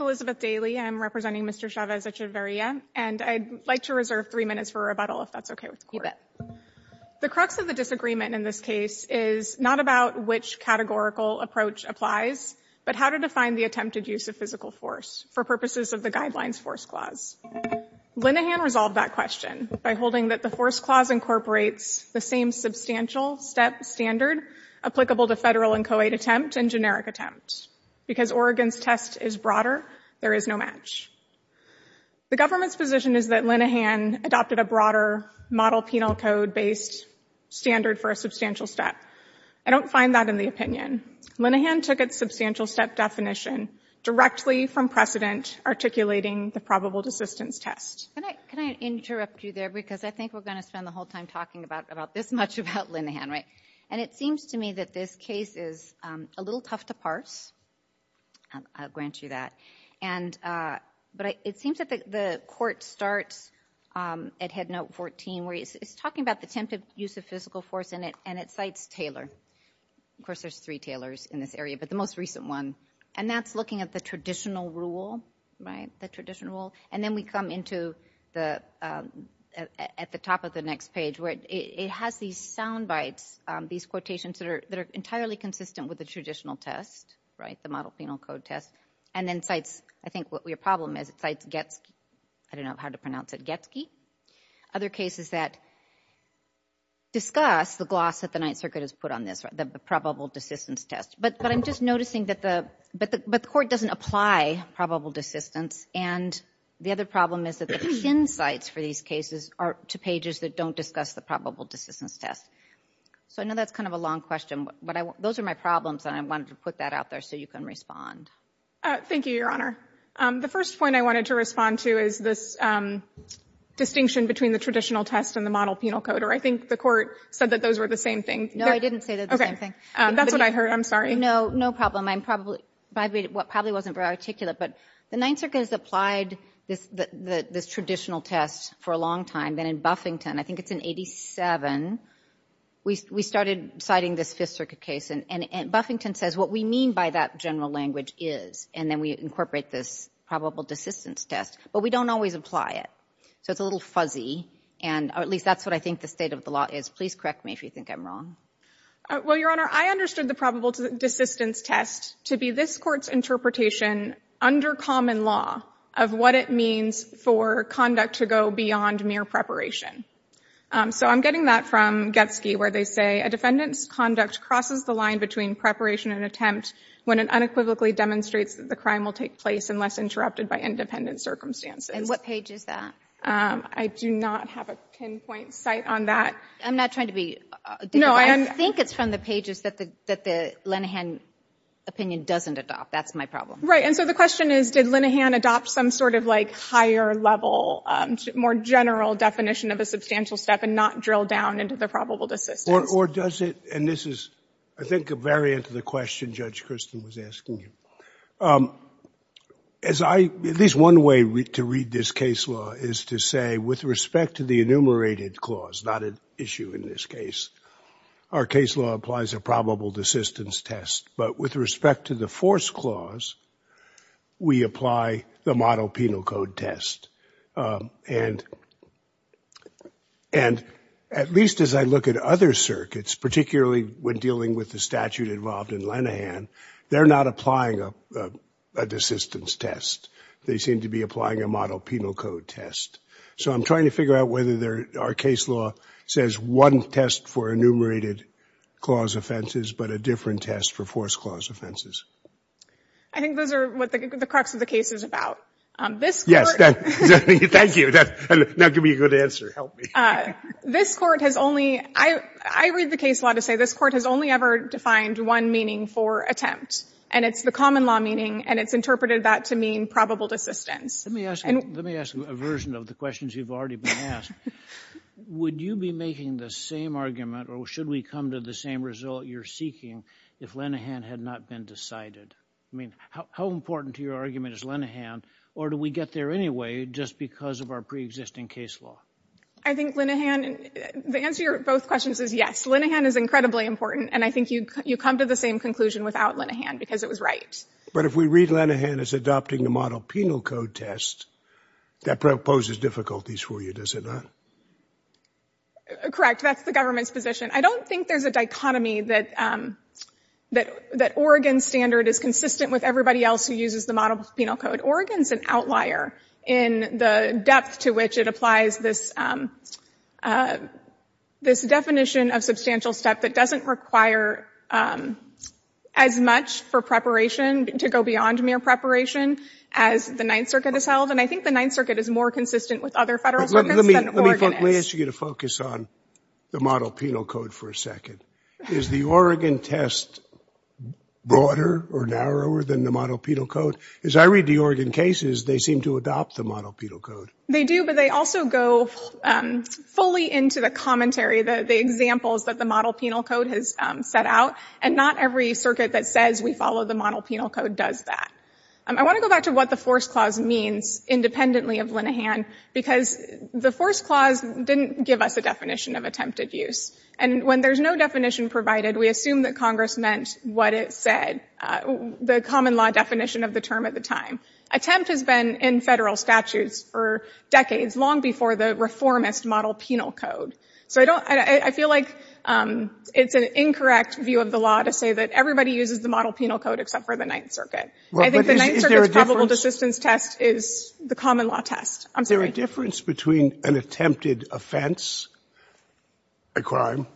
Elizabeth Daly, representing Mr. Chavez-Echeverria and I'd like to reserve three minutes for rebuttal if that's okay with the court. The crux of the disagreement in this case is not about which categorical approach applies, but how to define the attempted use of physical force for purposes of the guidelines force clause. Linehan resolved that question by holding that the force clause incorporates the same substantial step standard applicable to federal and co-aid attempt and generic attempt. Because Oregon's test is broader, there is no match. The government's position is that Linehan adopted a broader model penal code based standard for a substantial step. I don't find that in the opinion. Linehan took its substantial step definition directly from precedent articulating the probable desistance test. Can I interrupt you there because I think we're going to spend the whole time talking about about this much about Linehan, right? And it seems to me that this case is a little tough to parse. I'll grant you that. And but it seems that the court starts at Headnote 14 where it's talking about the attempted use of physical force in it and it cites Taylor. Of course there's three Taylors in this area, but the most recent one. And that's looking at the traditional rule, right? The traditional rule. And then we come into the at the top of the next page where it has these soundbites, these quotations that are that are entirely consistent with the traditional test, right? The model penal code test. And then cites, I think what your problem is, it cites Getzky. I don't know how to pronounce it. Getzky. Other cases that discuss the gloss that the Ninth Circuit has put on this, right? The probable desistance test. But I'm just noticing that the, but the court doesn't apply probable desistance. And the other problem is that the thin cites for these cases are to pages that don't discuss the probable desistance test. So I know that's kind of a long question, but I want, those are my problems and I wanted to put that out there so you can respond. Thank you, Your Honor. The first point I wanted to respond to is this distinction between the traditional test and the model penal code. Or I think the court said that those were the same thing. No, I didn't say that. Okay, that's what I heard. I'm sorry. No, no problem. I'm probably, what probably wasn't very articulate, but the Ninth Circuit has applied this, this traditional test for a long time. Then in Buffington, I think it's in 87, we, we started citing this Fifth Circuit case. And, and, and Buffington says what we mean by that general language is, and then we incorporate this probable desistance test. But we don't always apply it. So it's a little fuzzy. And, or at least that's what I think the state of the law is. Please correct me if you think I'm wrong. Well, Your Honor, I understood the probable desistance test to be this court's interpretation under common law of what it means for conduct to go beyond mere preparation. So I'm getting that from Getsky, where they say, a defendant's conduct crosses the line between preparation and attempt when it unequivocally demonstrates that the crime will take place unless interrupted by independent circumstances. And what page is that? I do not have a pinpoint site on that. I'm not trying to be. No, I that the Linehan opinion doesn't adopt. That's my problem. Right. And so the question is, did Linehan adopt some sort of like higher level, more general definition of a substantial step and not drill down into the probable desistance? Or, or does it, and this is, I think, a variant of the question Judge Christin was asking you. As I, at least one way to read this case law is to say, with respect to the enumerated clause, not an issue in this case, our case law applies a probable desistance test. But with respect to the force clause, we apply the model penal code test. Um, and, and at least as I look at other circuits, particularly when dealing with the statute involved in Linehan, they're not applying a, uh, a desistance test. They seem to be applying a model penal code test. So I'm trying to figure out whether there are case law says one test for enumerated clause offenses, but a different test for force clause offenses. I think those are what the crux of the case is about. Um, this court. Yes. Thank you. Now give me a good answer. Help me. Uh, this court has only, I, I read the case law to say this court has only ever defined one meaning for attempt. And it's the common law meaning, and it's interpreted that to mean probable desistance. Let me ask you, let me ask you a version of the questions you've already been asked. Would you be making the same argument or should we come to the same result you're seeking if Linehan had not been decided? I mean, how, how important to your argument is Linehan or do we get there anyway just because of our preexisting case law? I think Linehan, the answer to both questions is yes. Linehan is incredibly important and I think you, you come to the same conclusion without Linehan because it was right. But if we read Linehan as adopting the model penal code test, that proposes difficulties for you, does it not? Correct. That's the government's position. I don't think there's a dichotomy that, um, that, that Oregon standard is consistent with everybody else who uses the model penal code. Oregon's an outlier in the depth to which it applies this, um, uh, this definition of substantial step that doesn't require, um, as much for preparation to go beyond mere preparation as the Ninth Circuit has held. And I think the Ninth Circuit is more consistent with other federal circuits than Oregon is. Let me ask you to focus on the model penal code for a second. Is the Oregon test broader or narrower than the model penal code? As I read the Oregon cases, they seem to adopt the model penal code. They do, but they also go, um, fully into the commentary, the, the examples that the model penal code has, um, set out. And not every circuit that says we follow the model penal code does that. Um, I want to go back to what the force clause means independently of Linehan, because the force clause didn't give us a definition of attempted use. And when there's no definition provided, we assume that Congress meant what it said, uh, the common law definition of the term at the time. Attempt has been in federal statutes for decades, long before the reformist model penal code. So I don't, I feel like, um, it's an incorrect view of the law to say that everybody uses the model penal code except for the probable desistance test is the common law test. I'm sorry. Is there a difference between an attempted offense, a crime,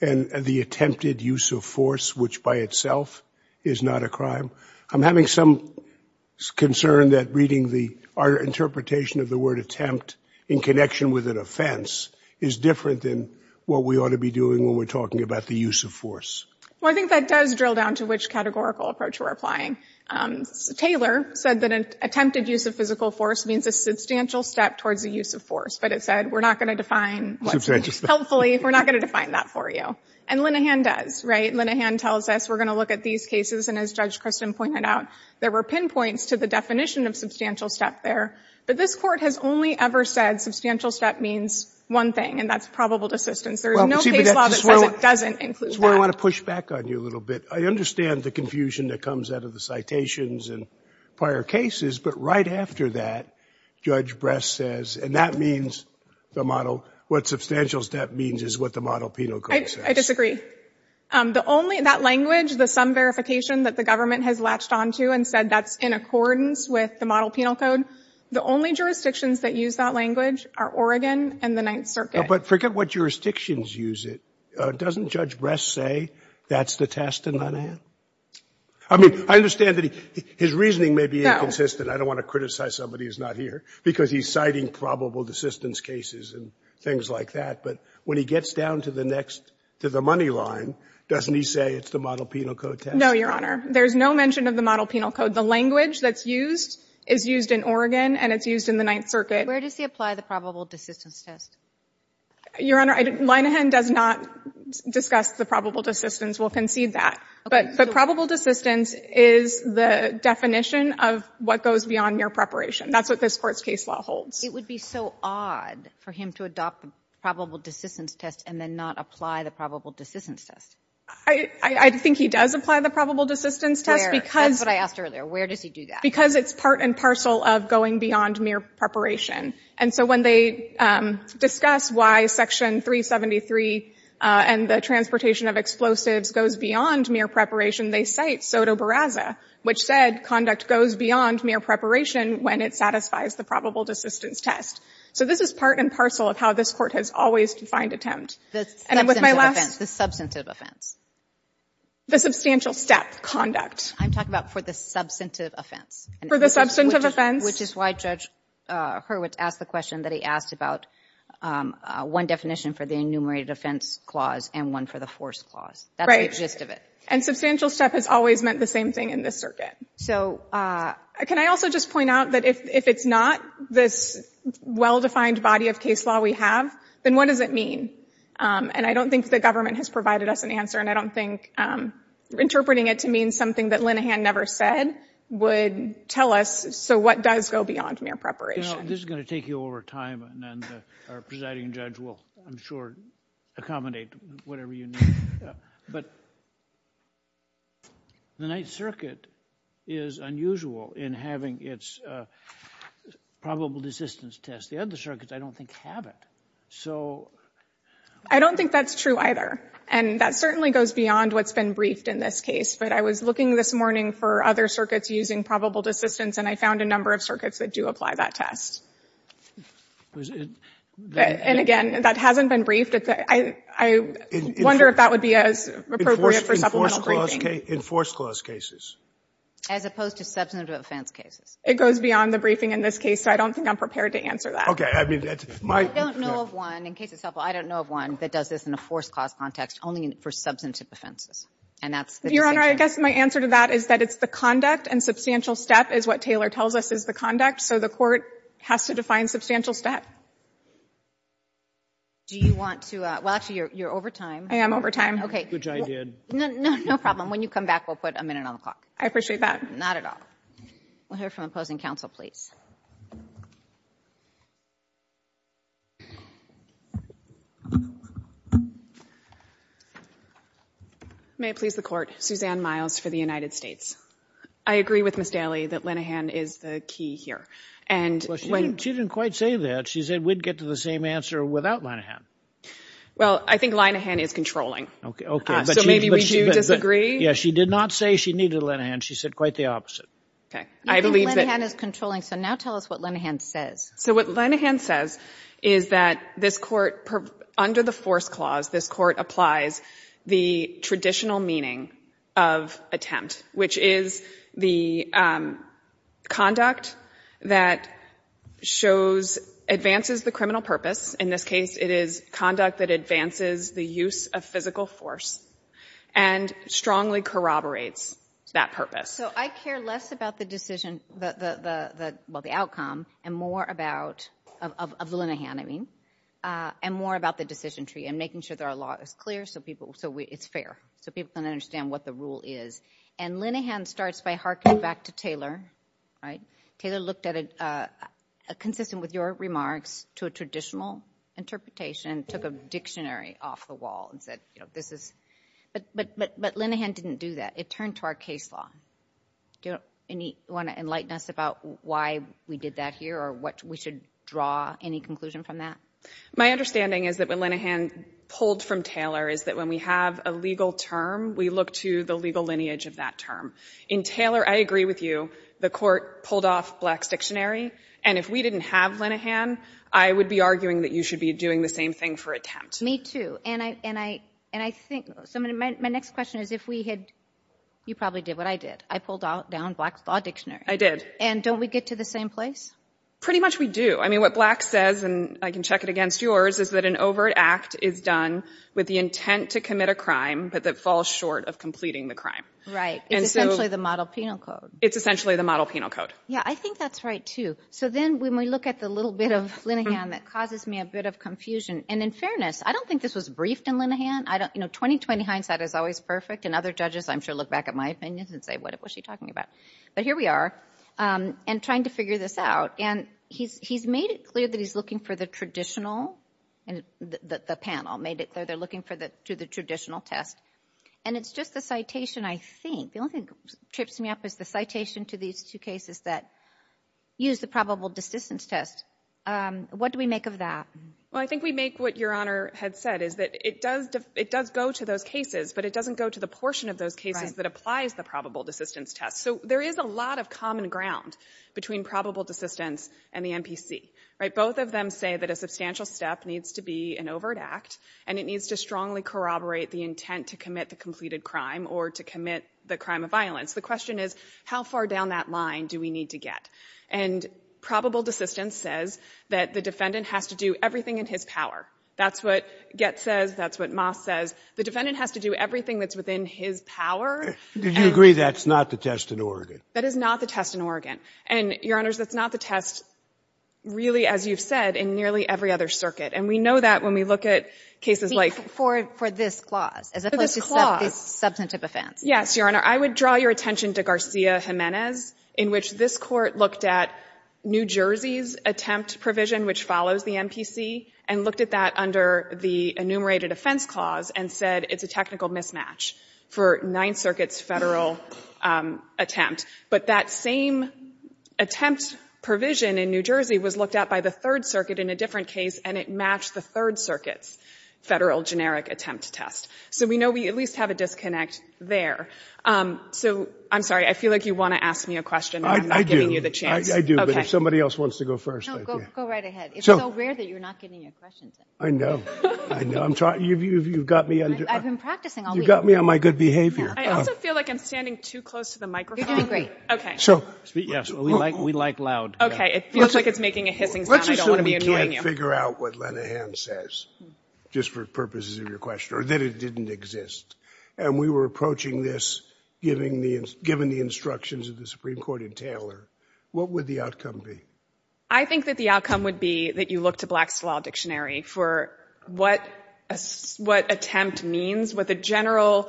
and the attempted use of force, which by itself is not a crime? I'm having some concern that reading the, our interpretation of the word attempt in connection with an offense is different than what we ought to be doing when we're talking about the use of force. Well, I think that does drill down to which categorical approach we're applying. Um, Taylor said that an attempted use of physical force means a substantial step towards the use of force. But it said, we're not going to define what's helpful. We're not going to define that for you. And Linehan does, right? Linehan tells us we're going to look at these cases. And as Judge Christin pointed out, there were pinpoints to the definition of substantial step there. But this Court has only ever said substantial step means one thing, and that's probable desistance. There is no case law that says it doesn't include that. That's where I want to push back on you a little bit. I understand the confusion that comes out of the citations and prior cases. But right after that, Judge Bress says, and that means the model, what substantial step means is what the model penal code says. I disagree. Um, the only, that language, the sum verification that the government has latched onto and said that's in accordance with the model penal code, the only jurisdictions that use that language are Oregon and the Ninth Circuit. But forget what jurisdictions use it. Uh, doesn't Judge Bress say that's the test in Linehan? I mean, I understand that he, his reasoning may be inconsistent. I don't want to criticize somebody who's not here, because he's citing probable desistance cases and things like that. But when he gets down to the next, to the money line, doesn't he say it's the model penal code test? No, Your Honor. There's no mention of the model penal code. The language that's used is used in Oregon, and it's used in the Ninth Circuit. Where does he apply the probable desistance test? Your Honor, I didn't, Linehan does not discuss the probable desistance. We'll concede that. But probable desistance is the definition of what goes beyond mere preparation. That's what this Court's case law holds. It would be so odd for him to adopt the probable desistance test and then not apply the probable desistance test. I, I think he does apply the probable desistance test, because Where? That's what I asked earlier. Where does he do that? Because it's part and parcel of going beyond mere preparation. And so when they, um, discuss why Section 373, uh, and the transportation of explosives goes beyond mere preparation, they cite Soto Barraza, which said conduct goes beyond mere preparation when it satisfies the probable desistance test. So this is part and parcel of how this Court has always defined attempt. The substantive offense. And with my last The substantive offense. The substantial step conduct. I'm talking about for the substantive offense. For the substantive offense. Which is why Judge, uh, Hurwitz asked the question that he asked about, um, uh, one definition for the enumerated offense clause and one for the force clause. Right. That's the gist of it. And substantial step has always meant the same thing in this circuit. So, uh, Can I also just point out that if, if it's not this well-defined body of case law we have, then what does it mean? Um, and I don't think the government has provided us an answer. And I don't think, um, interpreting it to mean something that Linehan never said would tell us, so what does go beyond mere preparation? You know, this is going to take you over time and then our presiding judge will, I'm sure, accommodate whatever you need. But the Ninth Circuit is unusual in having its probable desistance test. The other circuits, I don't think, have it. So I don't think that's true either. And that certainly goes beyond what's been briefed in this case. But I was looking this morning for other circuits using probable desistance and I found a number of circuits that do apply that test. And again, that hasn't been briefed. I wonder if that would be as appropriate for supplemental briefing. In force clause cases. As opposed to substantive offense cases. It goes beyond the briefing in this case. So I don't think I'm prepared to answer that. I don't know of one, in case it's helpful, I don't know of one that does this in a force clause context only for substantive offenses. And that's the decision. Your Honor, I guess my answer to that is that it's the conduct and substantial step is what Taylor tells us is the conduct. So the court has to define substantial step. Do you want to, well, actually, you're over time. I am over time. Okay. Which I did. No, no problem. When you come back, we'll put a minute on the clock. I appreciate that. Not at all. We'll hear from opposing counsel, please. May it please the court. Suzanne Miles for the United States. I agree with Ms. Daley that Linehan is the key here. And she didn't quite say that. She said we'd get to the same answer without Linehan. Well, I think Linehan is controlling. Okay, okay. So maybe we do disagree. Yeah, she did not say she needed Linehan. She said quite the opposite. Okay. I believe that Linehan is controlling. So now tell us what Linehan says. So what Linehan says is that this court, under the force clause, this court applies the traditional meaning of attempt, which is the conduct that advances the criminal purpose. In this case, it is conduct that advances the use of physical force and strongly corroborates that purpose. So I care less about the decision, well, the outcome, and more about, of Linehan, I mean, and more about the decision tree and making sure that our law is clear so it's fair, so people can understand what the rule is. And Linehan starts by harking back to Taylor, right? Taylor looked at it consistent with your remarks to a traditional interpretation, took a dictionary off the wall and said, you know, this is, but Linehan didn't do that. It turned to our case law. Do you want to enlighten us about why we did that here or what we should draw any conclusion from that? My understanding is that what Linehan pulled from Taylor is that when we have a legal term, we look to the legal lineage of that term. In Taylor, I agree with you. The court pulled off Black's dictionary, and if we didn't have Linehan, I would be arguing that you should be doing the same thing for attempt. Me too. And I, and I, and I think, so my next question is if we had, you probably did what I did. I pulled out down Black's law dictionary. I did. And don't we get to the same place? Pretty much we do. I mean, what Black says, and I can check it against yours, is that an overt act is done with the intent to commit a crime, but that falls short of completing the crime. Right. It's essentially the model penal code. It's essentially the model penal code. Yeah, I think that's right too. So then when we look at the little bit of Linehan, that causes me a bit of confusion. And in fairness, I don't think this was briefed in Linehan. I don't, you know, 20-20 hindsight is always perfect. And other judges, I'm sure, look back at my opinions and say, what was she talking about? But here we are, and trying to figure this out. And he's made it clear that he's looking for the traditional, and the panel made it clear they're looking to the traditional test. And it's just the citation, I think. The only thing that trips me up is the citation to these two cases that use the probable desistance test. What do we make of that? Well, I think we make what Your Honor had said, is that it does go to those cases, but it doesn't go to the portion of those cases that applies the probable desistance test. So there is a lot of common ground between probable desistance and the MPC, right? Both of them say that a substantial step needs to be an overt act, and it needs to strongly corroborate the intent to commit the completed crime, or to commit the crime of violence. The question is, how far down that line do we need to get? And probable desistance says that the defendant has to do everything in his power. That's what Gett says. That's what Moss says. The defendant has to do everything that's within his power. Did you agree that's not the test in Oregon? That is not the test in Oregon. And, Your Honors, that's not the test, really, as you've said, in nearly every other circuit. And we know that when we look at cases like this. For this clause, as opposed to this substantive offense. Yes, Your Honor. I would draw your attention to Garcia-Jimenez, in which this Court looked at New Jersey's attempt provision, which follows the MPC, and looked at that under the enumerated offense clause, and said it's a technical mismatch for Ninth Circuit's federal attempt. But that same attempt provision in New Jersey was looked at by the Third Circuit in a different case, and it matched the Third Circuit's federal generic attempt test. So we know we at least have a disconnect there. So, I'm sorry. I feel like you want to ask me a question, and I'm not giving you the chance. I do, but if somebody else wants to go first. No, go right ahead. It's so rare that you're not getting a question. I know. I know. I'm trying. You've got me on. I've been practicing all week. You've got me on my good behavior. I also feel like I'm standing too close to the microphone. You're doing great. Okay. So. Yes, we like loud. Okay. It feels like it's making a hissing sound. I don't want to be annoying you. Let's assume we can't figure out what Lenahan says, just for purposes of your question, or that it didn't exist. And we were approaching this, given the instructions of the Supreme Court and Taylor. What would the outcome be? I think that the outcome would be that you look to Black's Law Dictionary for what attempt means, what the general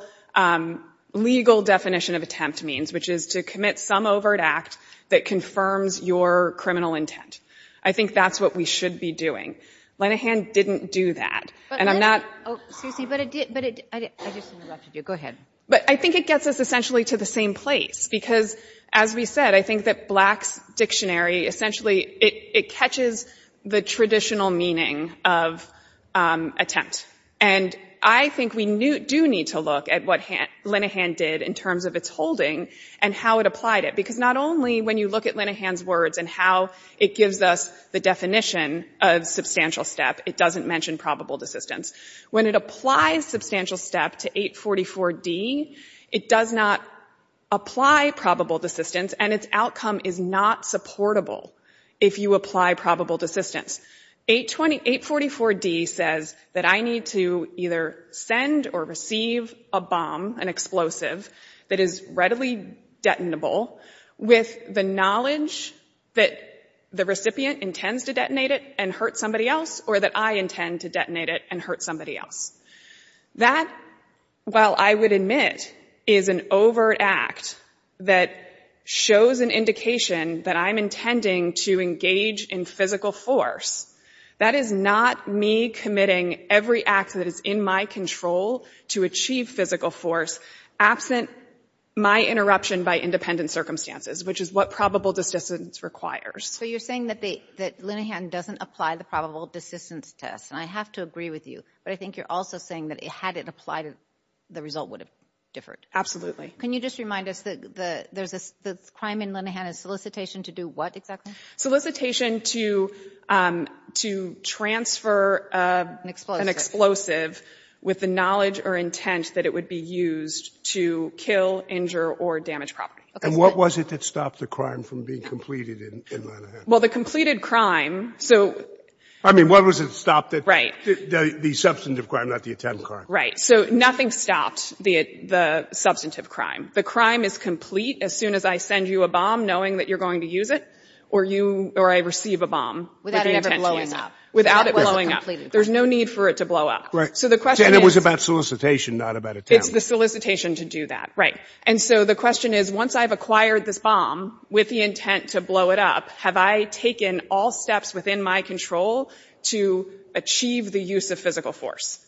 legal definition of attempt means, which is to commit some overt act that confirms your criminal intent. I think that's what we should be doing. Lenahan didn't do that, and I'm not. Oh, excuse me, but it did. But I just interrupted you. Go ahead. But I think it gets us essentially to the same place, because as we said, I think that Black's Dictionary, essentially, it catches the traditional meaning of attempt. And I think we do need to look at what Lenahan did in terms of its holding and how it applied it, because not only when you look at Lenahan's words and how it gives us the definition of substantial step, it doesn't mention probable desistance. When it applies substantial step to 844D, it does not apply probable desistance, and its outcome is not supportable if you apply probable desistance. 844D says that I need to either send or receive a bomb, an explosive that is readily detonable with the knowledge that the recipient intends to detonate it and hurt somebody else, or that I intend to detonate it and hurt somebody else. That, while I would admit, is an overt act that shows an indication that I'm intending to engage in physical force, that is not me committing every act that is in my control to achieve physical force absent my interruption by independent circumstances, which is what probable desistance requires. So you're saying that Lenahan doesn't apply the probable desistance test. And I have to agree with you. But I think you're also saying that had it applied, the result would have differed. Can you just remind us that there's this crime in Lenahan, a solicitation to do what exactly? Solicitation to transfer an explosive with the knowledge or intent that it would be used to kill, injure, or damage property. And what was it that stopped the crime from being completed in Lenahan? Well, the completed crime. So. I mean, what was it that stopped it? Right. The substantive crime, not the attempt crime. Right. So nothing stopped the substantive crime. The crime is complete as soon as I send you a bomb, knowing that you're going to use it, or I receive a bomb. Without it ever blowing up. Without it blowing up. There's no need for it to blow up. Right. And it was about solicitation, not about attempt. It's the solicitation to do that. Right. And so the question is, once I've acquired this bomb with the intent to blow it up, have I taken all steps within my control to achieve the use of physical force?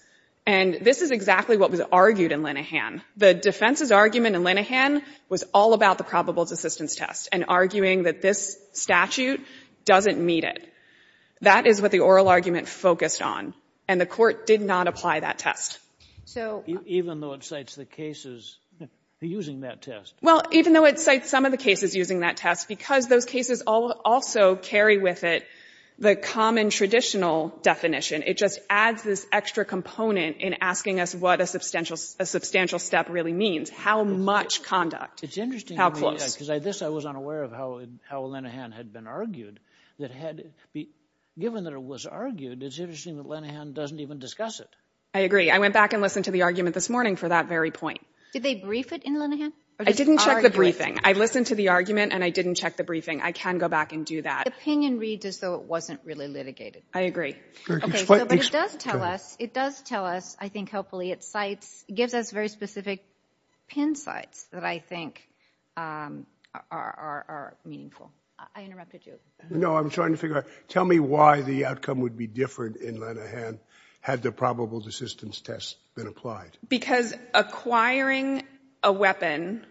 And this is exactly what was argued in Lenahan. The defense's argument in Lenahan was all about the probables assistance test, and arguing that this statute doesn't meet it. That is what the oral argument focused on. And the court did not apply that test. Even though it cites the cases using that test. Well, even though it cites some of the cases using that test, because those cases also carry with it the common traditional definition. It just adds this extra component in asking us what a substantial step really means. How much conduct? It's interesting. How close? Because this I was unaware of how Lenahan had been argued. Given that it was argued, it's interesting that Lenahan doesn't even discuss it. I agree. I went back and listened to the argument this morning for that very point. Did they brief it in Lenahan? I didn't check the briefing. I listened to the argument, and I didn't check the briefing. I can go back and do that. Opinion reads as though it wasn't really litigated. I agree. But it does tell us, it does tell us, I think, hopefully, it cites, gives us very specific pin sites that I think are meaningful. I interrupted you. No, I'm trying to figure out, tell me why the outcome would be different in Lenahan had the probables assistance test been applied? Because acquiring a weapon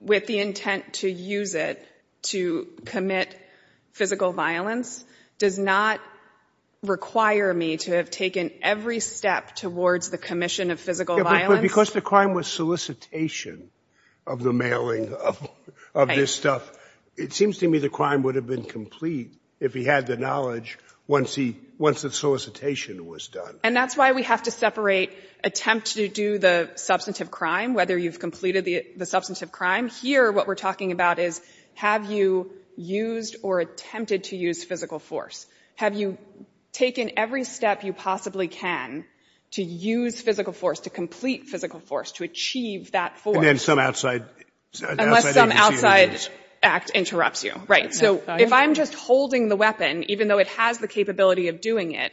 with the intent to use it to commit physical violence does not require me to have taken every step towards the commission of physical violence. Because the crime was solicitation of the mailing of this stuff, it seems to me the crime would have been complete if he had the knowledge once the solicitation was done. And that's why we have to separate attempt to do the substantive crime, whether you've completed the substantive crime. Here, what we're talking about is, have you used or attempted to use physical force? Have you taken every step you possibly can to use physical force, to complete physical force, to achieve that force? And then some outside agency would use. Unless some outside act interrupts you. Right. So if I'm just holding the weapon, even though it has the capability of doing it,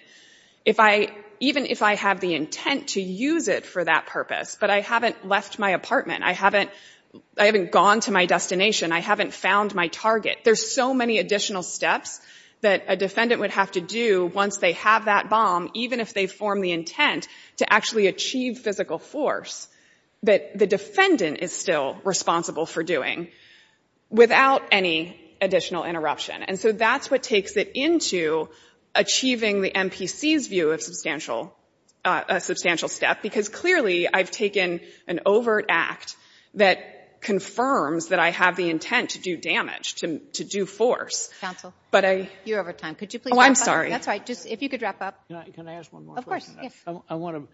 if I, even if I have the intent to use it for that purpose, but I haven't left my apartment, I haven't, I haven't gone to my destination, I haven't found my target, there's so many additional steps that a defendant would have to do once they have that bomb, even if they form the intent to actually achieve physical force, that the defendant is still responsible for doing, without any additional interruption. And so that's what takes it into achieving the MPC's view of substantial, a substantial step, because clearly I've taken an overt act that confirms that I have the intent to do damage, to do force. Counsel, you're over time. Could you please wrap up? Oh, I'm sorry. That's all right. Just, if you could wrap up. Can I ask one more question? Of course, yes. I want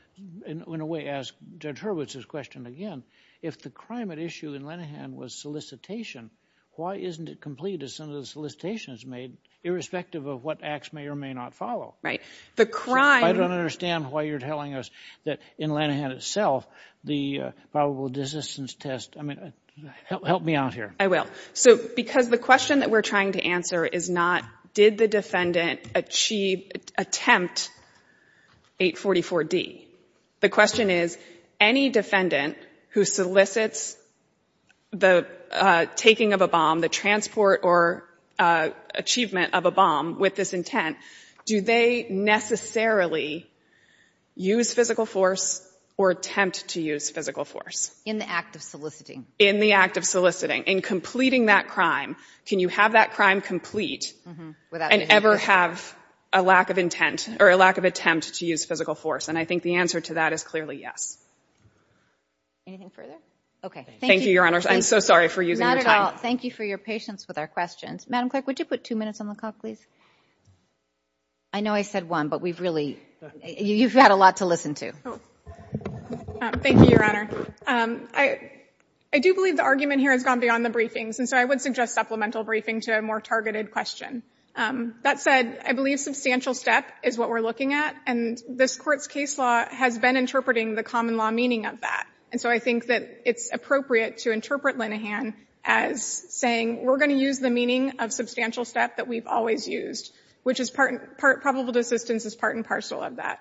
to, in a way, ask Judge Hurwitz's question again. If the crime at issue in Linehan was solicitation, why isn't it complete? Is some of the solicitations made irrespective of what acts may or may not follow? The crime... I don't understand why you're telling us that in Linehan itself, the probable resistance test, I mean, help me out here. I will. So, because the question that we're trying to answer is not, did the defendant achieve, attempt 844D? The question is, any defendant who solicits the taking of a bomb, the transport or achievement of a bomb with this intent, do they necessarily use physical force or attempt to use physical force? In the act of soliciting. In the act of soliciting. In completing that crime, can you have that crime complete and ever have a lack of intent or a lack of attempt to use physical force? And I think the answer to that is clearly yes. Anything further? Okay. Thank you, Your Honor. I'm so sorry for using your time. Not at all. Thank you for your patience with our questions. Madam Clerk, would you put two minutes on the clock, please? I know I said one, but we've really... You've got a lot to listen to. Thank you, Your Honor. I do believe the argument here has gone beyond the briefings. And so I would suggest supplemental briefing to a more targeted question. That said, I believe substantial step is what we're looking at. And this Court's case law has been interpreting the common law meaning of that. And so I think that it's appropriate to interpret Linehan as saying, we're going to use the meaning of substantial step that we've always used, which is part... Probable desistance is part and parcel of that.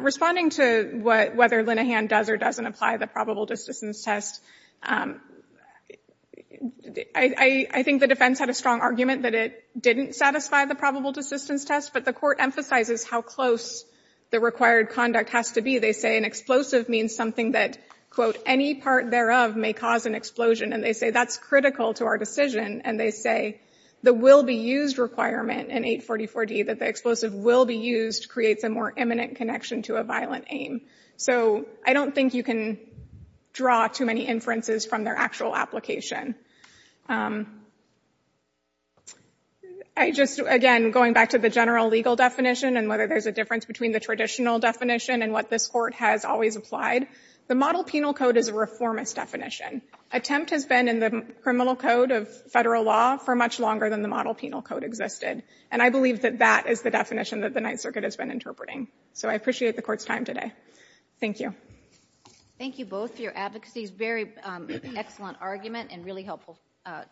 Responding to whether Linehan does or doesn't apply the probable desistance test, I think the defense had a strong argument that it didn't satisfy the probable desistance test, but the Court emphasizes how close the required conduct has to be. They say an explosive means something that, quote, any part thereof may cause an explosion. And they say that's critical to our decision. And they say the will-be-used requirement in 844D, that the explosive will be used, creates a more imminent connection to a violent aim. So I don't think you can draw too many inferences from their actual application. I just, again, going back to the general legal definition and whether there's a difference between the traditional definition and what this Court has always applied, the model penal code is a reformist definition. Attempt has been in the criminal code of federal law for much longer than the model penal code existed. And I believe that that is the definition that the Ninth Circuit has been interpreting. So I appreciate the Court's time today. Thank you. Thank you both for your advocacy. It's a very excellent argument and really a great argument.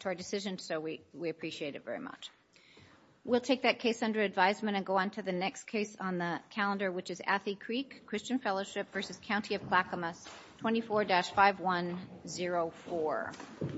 To our decision. So we appreciate it very much. We'll take that case under advisement and go on to the next case on the calendar, which is Athe Creek Christian Fellowship versus County of Clackamas 24-5104.